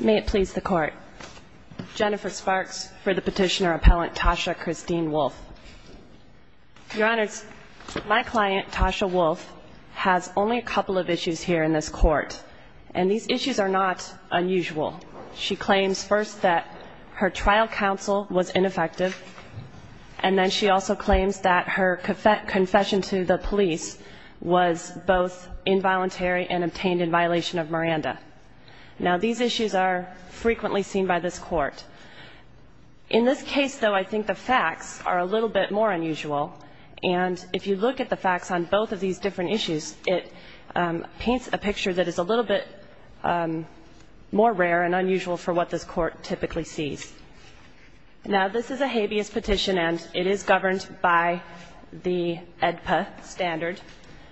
May it please the Court. Jennifer Sparks for the Petitioner Appellant Tasha Christine Wolfe. Your Honors, my client Tasha Wolfe has only a couple of issues here in this Court, and these issues are not unusual. She claims first that her trial counsel was ineffective, and then she also claims that her confession to the police was both involuntary and obtained in violation of Miranda. Now, these issues are frequently seen by this Court. In this case, though, I think the facts are a little bit more unusual, and if you look at the facts on both of these different issues, it paints a picture that is a little bit more rare and unusual for what this Court typically sees. Now, this is a habeas petition, and it is governed by the AEDPA standard.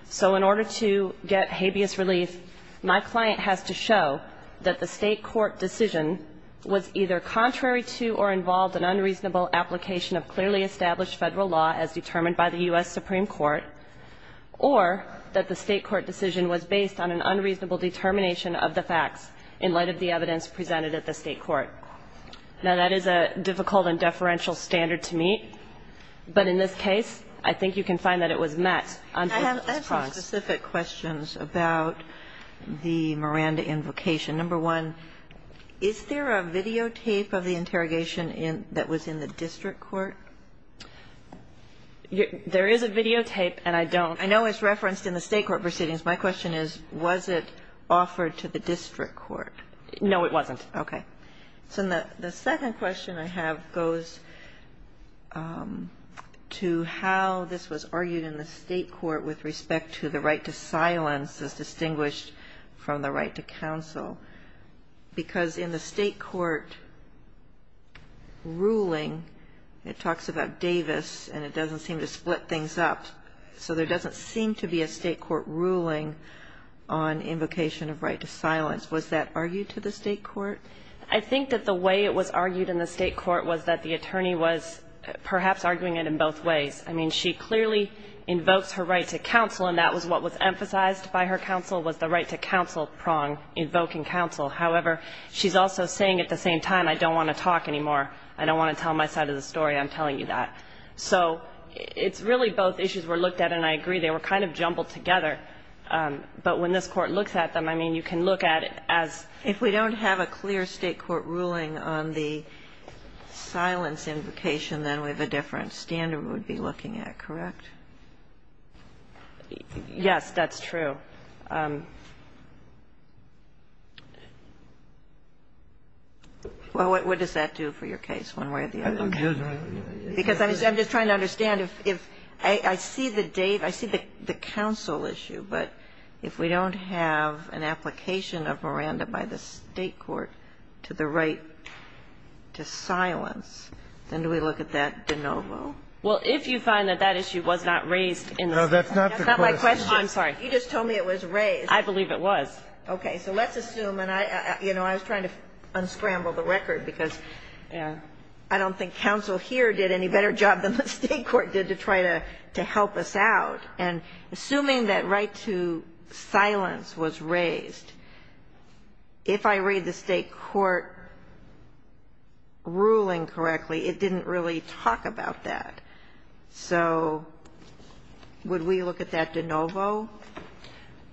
So in order to get habeas relief, my client has to show that the State court decision was either contrary to or involved an unreasonable application of clearly established Federal law as determined by the U.S. Supreme Court, or that the State court decision was based on an unreasonable determination of the facts in light of the evidence presented at the State court. Now, that is a difficult and deferential standard to meet, but in this case, I think you can find that it was met. I have two specific questions about the Miranda invocation. Number one, is there a videotape of the interrogation that was in the district court? There is a videotape, and I don't know. I know it's referenced in the State court proceedings. My question is, was it offered to the district court? No, it wasn't. Okay. So the second question I have goes to how this was argued in the State court with respect to the right to silence as distinguished from the right to counsel, because in the State court ruling, it talks about Davis, and it doesn't seem to split things up. So there doesn't seem to be a State court ruling on invocation of right to silence. Was that argued to the State court? I think that the way it was argued in the State court was that the attorney was perhaps arguing it in both ways. I mean, she clearly invokes her right to counsel, and that was what was emphasized by her counsel, was the right to counsel prong, invoking counsel. However, she's also saying at the same time, I don't want to talk anymore. I don't want to tell my side of the story. I'm telling you that. So it's really both issues were looked at, and I agree. They were kind of jumbled together. But when this Court looks at them, I mean, you can look at it as if we don't have a clear State court ruling on the silence invocation, then we have a different standard we would be looking at. Correct? Yes, that's true. Well, what does that do for your case one way or the other? Because I'm just trying to understand if I see the date, I see the counsel issue, but if we don't have an application of Miranda by the State court to the right to silence, then do we look at that de novo? Well, if you find that that issue was not raised in the State court. No, that's not the question. That's not my question. I'm sorry. You just told me it was raised. I believe it was. Okay. So let's assume, and I was trying to unscramble the record because I don't think counsel here did any better job than the State court did to try to help us out. And assuming that right to silence was raised, if I read the State court ruling correctly, it didn't really talk about that. So would we look at that de novo?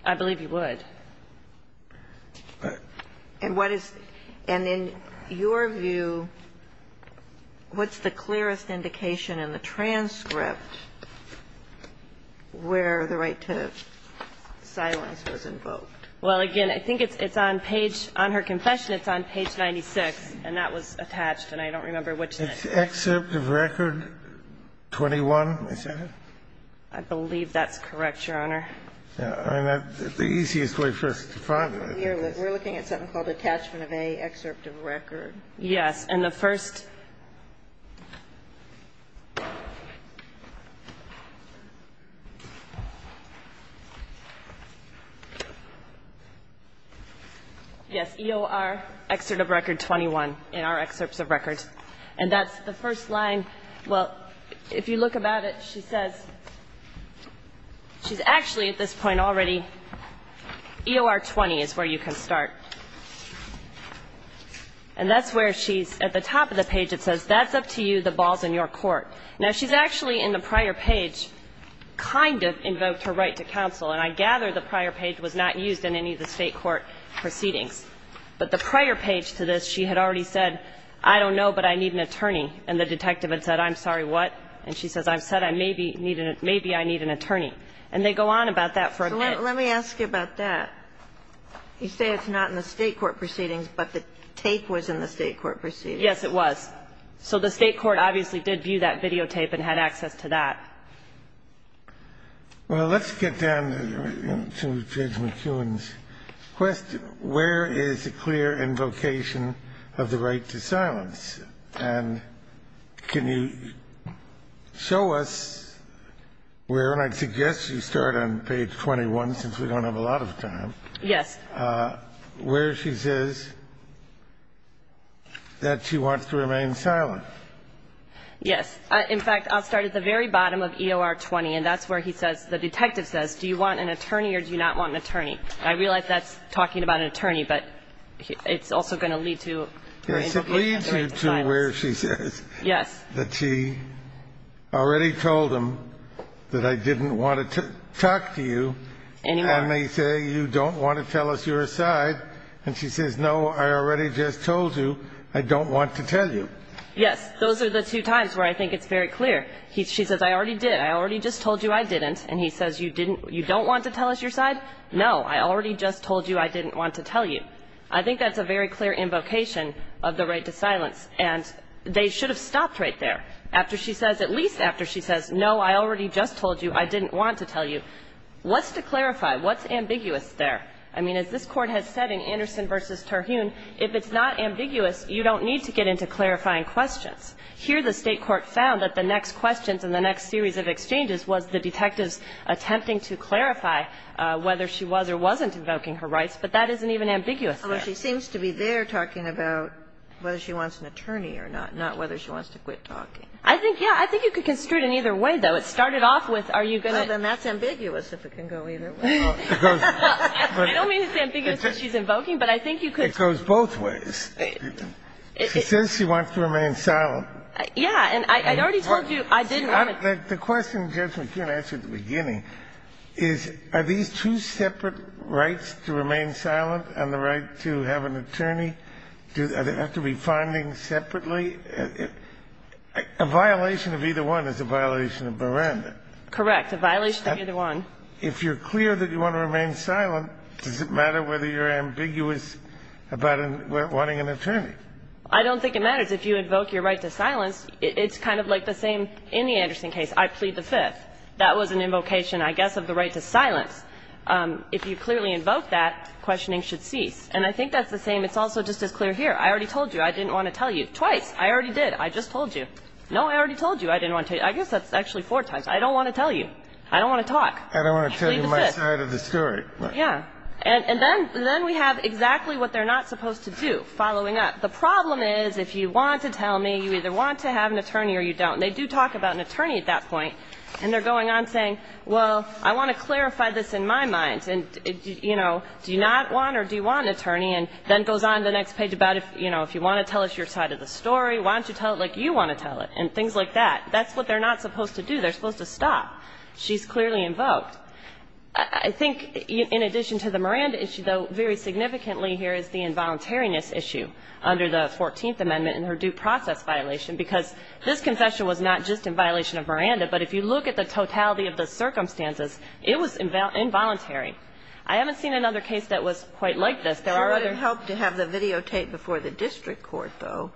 I believe you would. And what is, and in your view, what's the clearest indication in the transcript where the right to silence was invoked? Well, again, I think it's on page, on her confession, it's on page 96, and that was attached, and I don't remember which. It's excerpt of record 21, is that it? I believe that's correct, Your Honor. The easiest way for us to find it. We're looking at something called attachment of A, excerpt of record. Yes. And the first yes, EOR, excerpt of record 21 in our excerpts of records. And that's the first line. Well, if you look about it, she says, she's actually at this point already, EOR 20 is where you can start. And that's where she's at the top of the page. It says, that's up to you, the ball's in your court. Now, she's actually in the prior page kind of invoked her right to counsel, and I gather the prior page was not used in any of the State court proceedings. But the prior page to this, she had already said, I don't know, but I need an attorney, and the detective had said, I'm sorry, what? And she says, I've said, maybe I need an attorney. And they go on about that for a minute. So let me ask you about that. You say it's not in the State court proceedings, but the tape was in the State court proceedings. Yes, it was. So the State court obviously did view that videotape and had access to that. Well, let's get down to Judge McEwen's question. Where is the clear invocation of the right to silence? And can you show us where, and I'd suggest you start on page 21 since we don't have a lot of time. Yes. Where she says that she wants to remain silent. Yes. In fact, I'll start at the very bottom of EOR 20, and that's where he says, the detective says, do you want an attorney or do you not want an attorney? I realize that's talking about an attorney, but it's also going to lead to an interview. It leads you to where she says. Yes. That she already told him that I didn't want to talk to you. Anymore. And they say, you don't want to tell us your side. And she says, no, I already just told you I don't want to tell you. Yes. Those are the two times where I think it's very clear. She says, I already did. I already just told you I didn't. And he says, you didn't you don't want to tell us your side? No, I already just told you I didn't want to tell you. I think that's a very clear invocation of the right to silence. And they should have stopped right there after she says, at least after she says, no, I already just told you I didn't want to tell you. What's to clarify? What's ambiguous there? I mean, as this Court has said in Anderson v. Terhune, if it's not ambiguous, you don't need to get into clarifying questions. Here the State court found that the next questions in the next series of exchanges was the detective's attempting to clarify whether she was or wasn't invoking her rights, but that isn't even ambiguous there. Well, she seems to be there talking about whether she wants an attorney or not, not whether she wants to quit talking. I think, yeah. I think you could construe it in either way, though. It started off with, are you going to? Well, then that's ambiguous if it can go either way. I don't mean it's ambiguous if she's invoking, but I think you could. It goes both ways. She says she wants to remain silent. Yeah. And I already told you I didn't want to. The question, Judge McKeon asked at the beginning, is are these two separate rights, to remain silent and the right to have an attorney? Do they have to be finding separately? A violation of either one is a violation of Miranda. Correct. A violation of either one. If you're clear that you want to remain silent, does it matter whether you're ambiguous about wanting an attorney? I don't think it matters. If you invoke your right to silence, it's kind of like the same in the Anderson case. I plead the Fifth. That was an invocation, I guess, of the right to silence. If you clearly invoke that, questioning should cease. And I think that's the same. It's also just as clear here. I already told you I didn't want to tell you. Twice. I already did. I just told you. No, I already told you I didn't want to tell you. I guess that's actually four times. I don't want to tell you. I don't want to talk. I plead the Fifth. I don't want to tell you my side of the story. Yeah. And then we have exactly what they're not supposed to do, following up. The problem is, if you want to tell me, you either want to have an attorney or you don't. And they do talk about an attorney at that point. And they're going on saying, well, I want to clarify this in my mind. And, you know, do you not want or do you want an attorney? And then it goes on to the next page about, you know, if you want to tell us your side of the story, why don't you tell it like you want to tell it, and things like that. That's what they're not supposed to do. They're supposed to stop. She's clearly invoked. I think in addition to the Miranda issue, though, very significantly here is the violation of the 14th Amendment and her due process violation. Because this confession was not just in violation of Miranda, but if you look at the totality of the circumstances, it was involuntary. I haven't seen another case that was quite like this. There are other ones. It would have helped to have the videotape before the district court, though,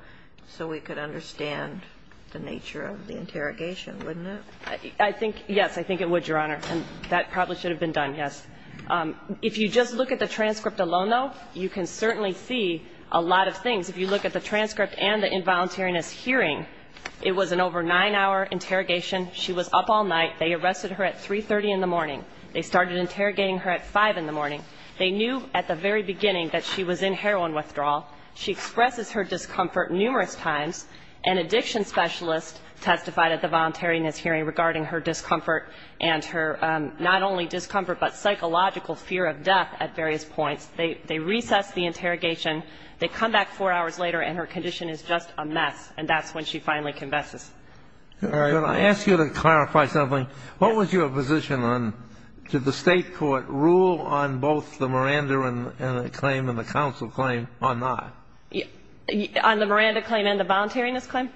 so we could understand the nature of the interrogation, wouldn't it? I think, yes, I think it would, Your Honor. And that probably should have been done, yes. If you just look at the transcript alone, though, you can certainly see a lot of things. If you look at the transcript and the involuntariness hearing, it was an over nine-hour interrogation. She was up all night. They arrested her at 3.30 in the morning. They started interrogating her at 5 in the morning. They knew at the very beginning that she was in heroin withdrawal. She expresses her discomfort numerous times. An addiction specialist testified at the voluntariness hearing regarding her discomfort and her not only discomfort but psychological fear of death at various points. They recessed the interrogation. They come back four hours later, and her condition is just a mess. And that's when she finally confesses. All right. Well, I ask you to clarify something. What was your position on did the State court rule on both the Miranda claim and the counsel claim or not? On the Miranda claim and the voluntariness claim?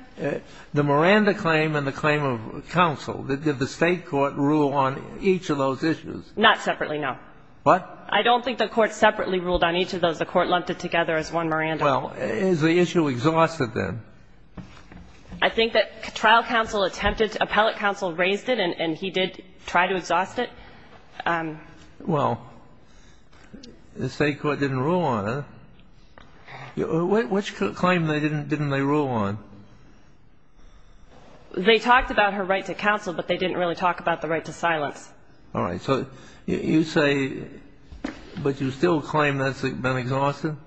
The Miranda claim and the claim of counsel. Did the State court rule on each of those issues? Not separately, no. What? I don't think the court separately ruled on each of those. The court lumped it together as one Miranda. Well, is the issue exhausted, then? I think that trial counsel attempted to. Appellate counsel raised it, and he did try to exhaust it. Well, the State court didn't rule on it. Which claim didn't they rule on? They talked about her right to counsel, but they didn't really talk about the right to silence. All right. So you say, but you still claim that's been exhausted?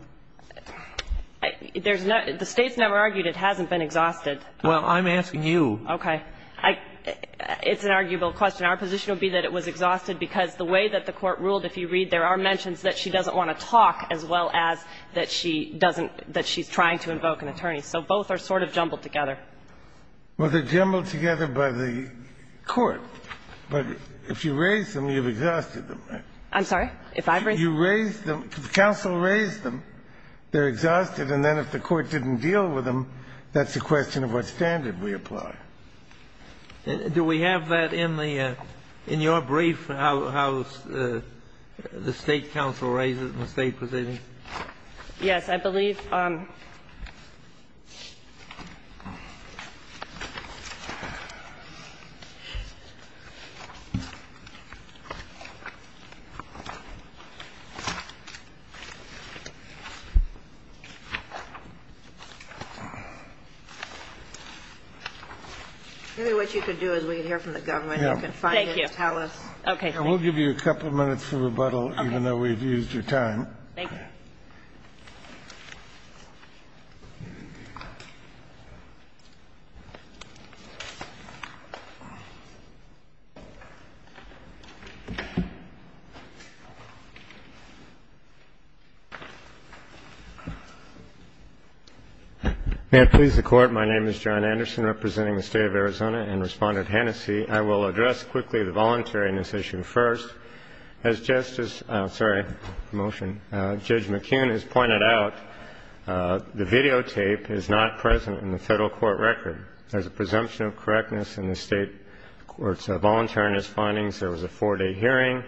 There's no – the State's never argued it hasn't been exhausted. Well, I'm asking you. Okay. It's an arguable question. Our position would be that it was exhausted because the way that the court ruled, if you read, there are mentions that she doesn't want to talk as well as that she doesn't – that she's trying to invoke an attorney. So both are sort of jumbled together. Well, they're jumbled together by the court. But if you raise them, you've exhausted them. I'm sorry? If I've raised them? You raised them. Counsel raised them. They're exhausted. And then if the court didn't deal with them, that's a question of what standard we apply. Do we have that in the – in your brief, how the State counsel raised it in the State proceeding? Yes. Yes, I believe. Maybe what you could do is we could hear from the government. Thank you. And we'll give you a couple minutes for rebuttal, even though we've used your time. Thank you. May it please the Court. My name is John Anderson, representing the State of Arizona, and Respondent Hennessey. I will address quickly the voluntary in this issue first. As Justice – sorry, promotion – Judge McKeown has pointed out, the videotape is not present in the Federal court record. There's a presumption of correctness in the State court's voluntariness findings. There was a four-day hearing.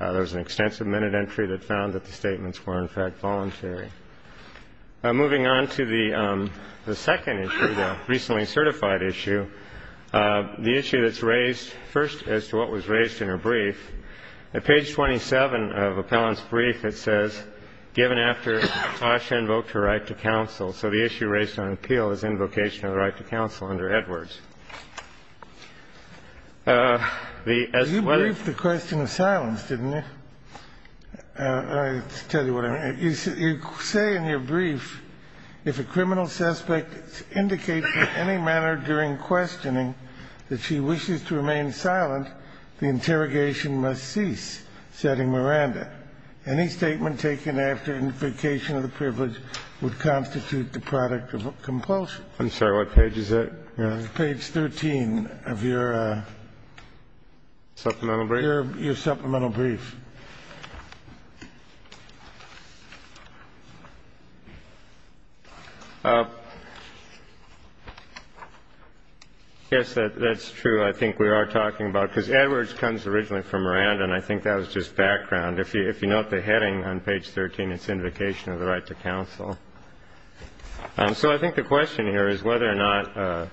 There was an extensive minute entry that found that the statements were, in fact, voluntary. Moving on to the second issue, the recently certified issue, the issue that's raised first as to what was raised in her brief. At page 27 of Appellant's brief, it says, given after Asha invoked her right to counsel, so the issue raised on appeal is invocation of the right to counsel under Edwards. The – as to whether – You briefed the question of silence, didn't you? I'll tell you what I mean. You say in your brief, if a criminal suspect indicates in any manner during questioning that she wishes to remain silent, the interrogation must cease, said in Miranda. Any statement taken after invocation of the privilege would constitute the product of compulsion. I'm sorry. What page is that? Page 13 of your – Supplemental brief? Your supplemental brief. Yes, that's true. I think we are talking about – because Edwards comes originally from Miranda, and I think that was just background. If you note the heading on page 13, it's invocation of the right to counsel. So I think the question here is whether or not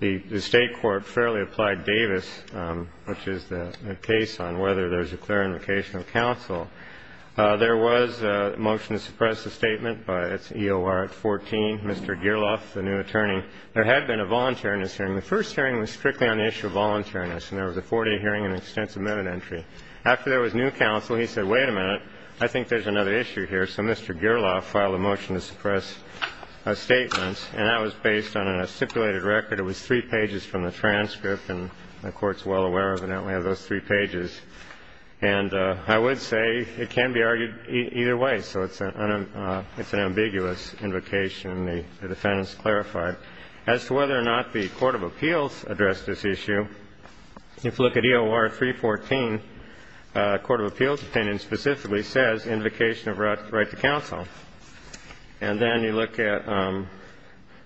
the State court fairly applied Davis, which is the case on whether there's a clear invocation of counsel. There was a motion to suppress the statement, but it's EOR 14. Mr. Gerloff, the new attorney, there had been a voluntariness hearing. The first hearing was strictly on the issue of voluntariness, and there was a four-day hearing and extensive minute entry. After there was new counsel, he said, wait a minute, I think there's another issue here. So Mr. Gerloff filed a motion to suppress statements, and that was based on a stipulated record. It was three pages from the transcript, and the Court's well aware of those three pages. And I would say it can be argued either way. So it's an ambiguous invocation, and the defendants clarified. As to whether or not the court of appeals addressed this issue, if you look at EOR 314, court of appeals opinion specifically says invocation of right to counsel. And then you look at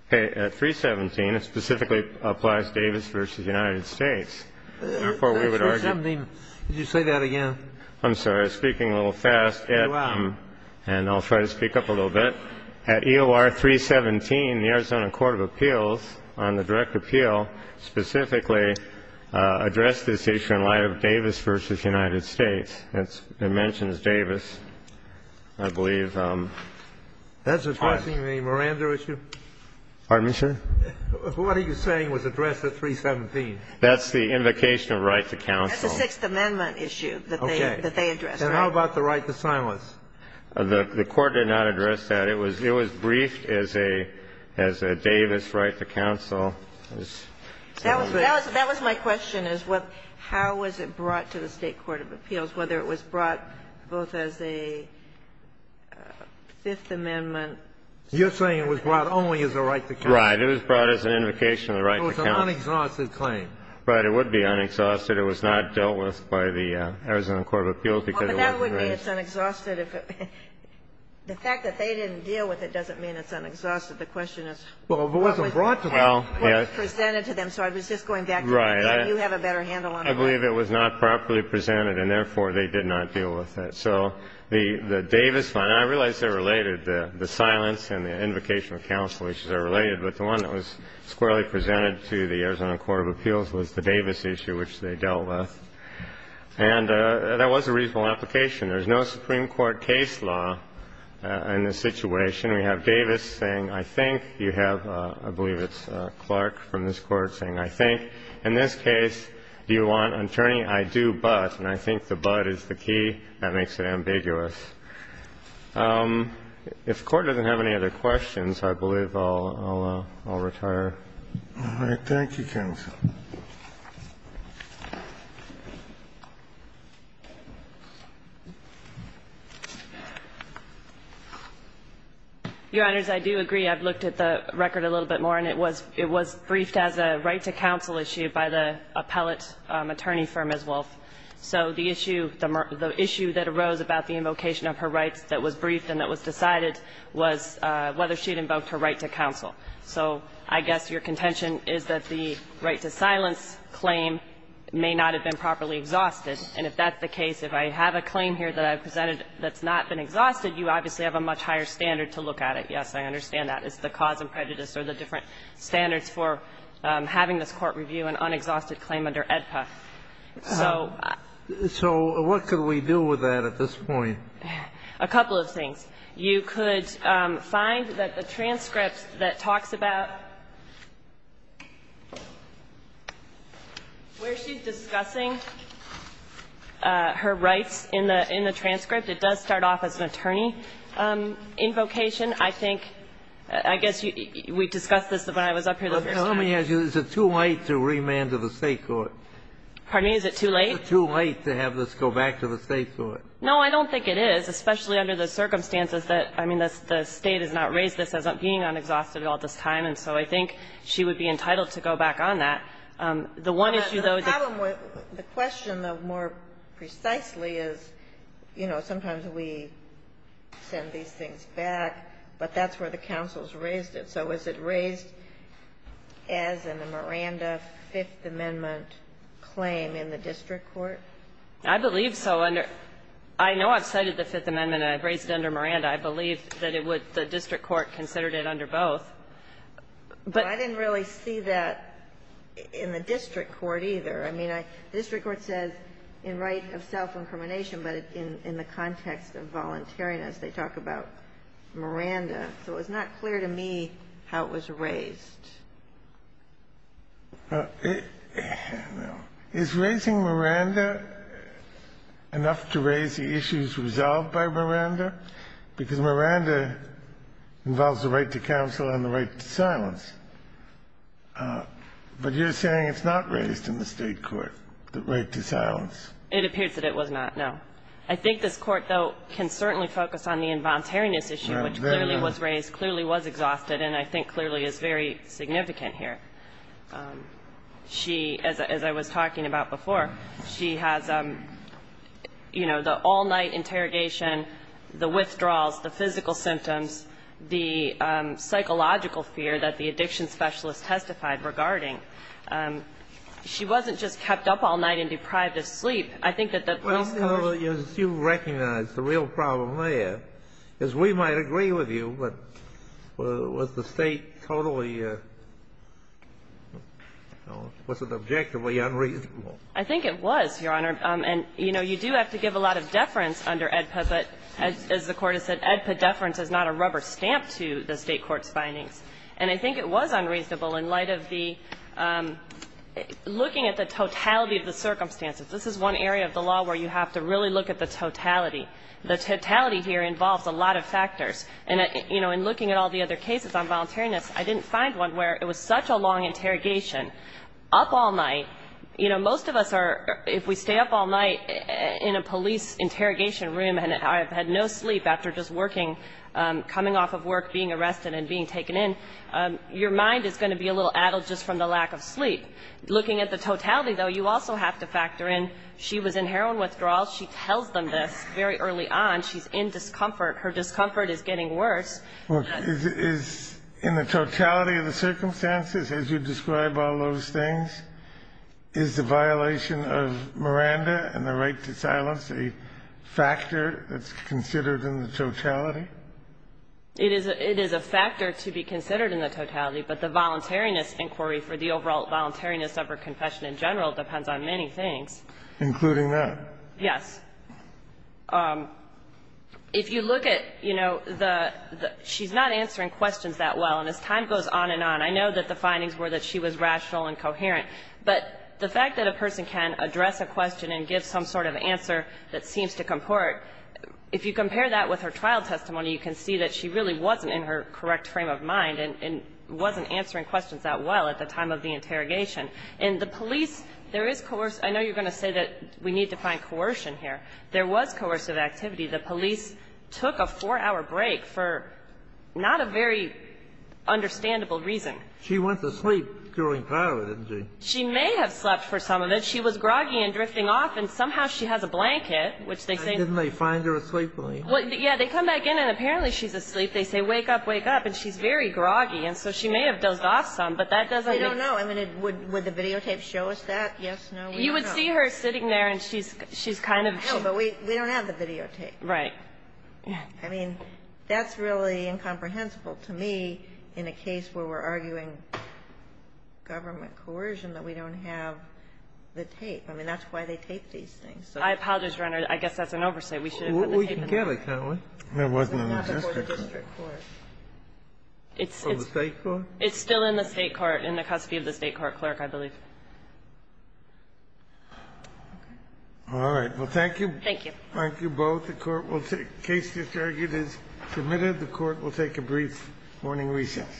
317. It specifically applies Davis v. United States. Therefore, we would argue. Did you say that again? I'm sorry. I was speaking a little fast. And I'll try to speak up a little bit. At EOR 317, the Arizona court of appeals on the direct appeal specifically addressed this issue in light of Davis v. United States. It mentions Davis, I believe. That's addressing the Miranda issue? Pardon me, sir? What are you saying was addressed at 317? That's the invocation of right to counsel. That's the Sixth Amendment issue that they addressed. Okay. Then how about the right to silence? The Court did not address that. It was briefed as a Davis right to counsel. That was my question, is how was it brought to the State court of appeals? Whether it was brought both as a Fifth Amendment? You're saying it was brought only as a right to counsel. Right. It was brought as an invocation of the right to counsel. It was an unexhausted claim. Right. It would be unexhausted. It was not dealt with by the Arizona court of appeals because it wasn't raised. Well, but that would mean it's unexhausted if it wasn't. The fact that they didn't deal with it doesn't mean it's unexhausted. The question is what was presented to them. So I was just going back to that. Right. You have a better handle on that. I believe it was not properly presented and, therefore, they did not deal with it. So the Davis fine, I realize they're related, the silence and the invocation of counsel, which are related, but the one that was squarely presented to the Arizona court of appeals was the Davis issue, which they dealt with. And that was a reasonable application. There's no Supreme Court case law in this situation. We have Davis saying, I think you have, I believe it's Clark from this court saying, I think, in this case, do you want an attorney? I do, but, and I think the but is the key, that makes it ambiguous. If the Court doesn't have any other questions, I believe I'll retire. All right. Thank you, counsel. Your Honors, I do agree. I've looked at the record a little bit more, and it was briefed as a right to counsel issue by the appellate attorney for Ms. Wolf. So the issue that arose about the invocation of her rights that was briefed and that was decided was whether she had invoked her right to counsel. So I guess your contention is that the right to silence claim may not have been properly exhausted, and if that's the case, if I have a claim here that I've presented that's not been exhausted, you obviously have a much higher standard to look at it. Yes, I understand that. It's the cause and prejudice or the different standards for having this court review an unexhausted claim under AEDPA. So what could we do with that at this point? A couple of things. You could find that the transcript that talks about where she's discussing her rights in the transcript, it does start off as an attorney invocation. I think, I guess, we discussed this when I was up here the first time. Well, tell me, is it too late to remand to the State court? Pardon me? Is it too late? Is it too late to have this go back to the State court? No, I don't think it is, especially under the circumstances that, I mean, the State has not raised this as being unexhausted at all at this time. And so I think she would be entitled to go back on that. The one issue, though, is that the problem with the question of more precisely is, you know, sometimes we send these things back, but that's where the counsel has raised it. So is it raised as in the Miranda Fifth Amendment claim in the district court? I believe so. I know I've cited the Fifth Amendment and I've raised it under Miranda. I believe that it would the district court considered it under both. But I didn't really see that in the district court either. I mean, the district court says in right of self-incrimination, but in the context of voluntariness, they talk about Miranda. So it was not clear to me how it was raised. Is raising Miranda enough to raise the issues resolved by Miranda? Because Miranda involves the right to counsel and the right to silence. But you're saying it's not raised in the state court, the right to silence. It appears that it was not, no. I think this Court, though, can certainly focus on the involuntariness issue, which clearly was raised, clearly was exhausted, and I think clearly is very significant here. She, as I was talking about before, she has, you know, the all-night interrogation, the withdrawals, the physical symptoms, the psychological fear that the addiction specialist testified regarding. She wasn't just kept up all night and deprived of sleep. I think that the police courts ---- Well, you recognize the real problem there is we might agree with you, but was the state totally, you know, was it objectively unreasonable? I think it was, Your Honor. And, you know, you do have to give a lot of deference under AEDPA, but as the Court has said, AEDPA deference is not a rubber stamp to the state court's findings. And I think it was unreasonable in light of the ---- looking at the totality of the circumstances. This is one area of the law where you have to really look at the totality. The totality here involves a lot of factors. And, you know, in looking at all the other cases on voluntariness, I didn't find one where it was such a long interrogation, up all night. You know, most of us are, if we stay up all night in a police interrogation room and have had no sleep after just working, coming off of work, being arrested and being taken in, your mind is going to be a little addled just from the lack of sleep. Looking at the totality, though, you also have to factor in she was in heroin withdrawal. She tells them this very early on. She's in discomfort. Her discomfort is getting worse. Is in the totality of the circumstances, as you describe all those things, is the violation of Miranda and the right to silence a factor that's considered in the totality? It is a factor to be considered in the totality, but the voluntariness inquiry for the overall voluntariness of her confession in general depends on many things. Including that? Yes. If you look at, you know, she's not answering questions that well. And as time goes on and on, I know that the findings were that she was rational and coherent. But the fact that a person can address a question and give some sort of answer that seems to comport, if you compare that with her trial testimony, you can see that she really wasn't in her correct frame of mind and wasn't answering questions that well at the time of the interrogation. And the police, there is coercion. I know you're going to say that we need to find coercion here. There was coercive activity. The police took a four-hour break for not a very understandable reason. She went to sleep during part of it, didn't she? She may have slept for some of it. She was groggy and drifting off, and somehow she has a blanket, which they say Didn't they find her asleep? Yeah. They come back in, and apparently she's asleep. They say, wake up, wake up. And she's very groggy, and so she may have dozed off some, but that doesn't They don't know. I mean, would the videotape show us that? Yes, no, we don't know. We see her sitting there, and she's kind of No, but we don't have the videotape. Right. I mean, that's really incomprehensible to me in a case where we're arguing government coercion, that we don't have the tape. I mean, that's why they taped these things. I apologize, Your Honor. I guess that's an oversight. We should have put the tape in there. We can get it, can't we? It wasn't in the district court. It's still in the state court, in the custody of the state court clerk, I believe. All right. Well, thank you. Thank you. Thank you both. The case just argued is submitted. The Court will take a brief morning recess.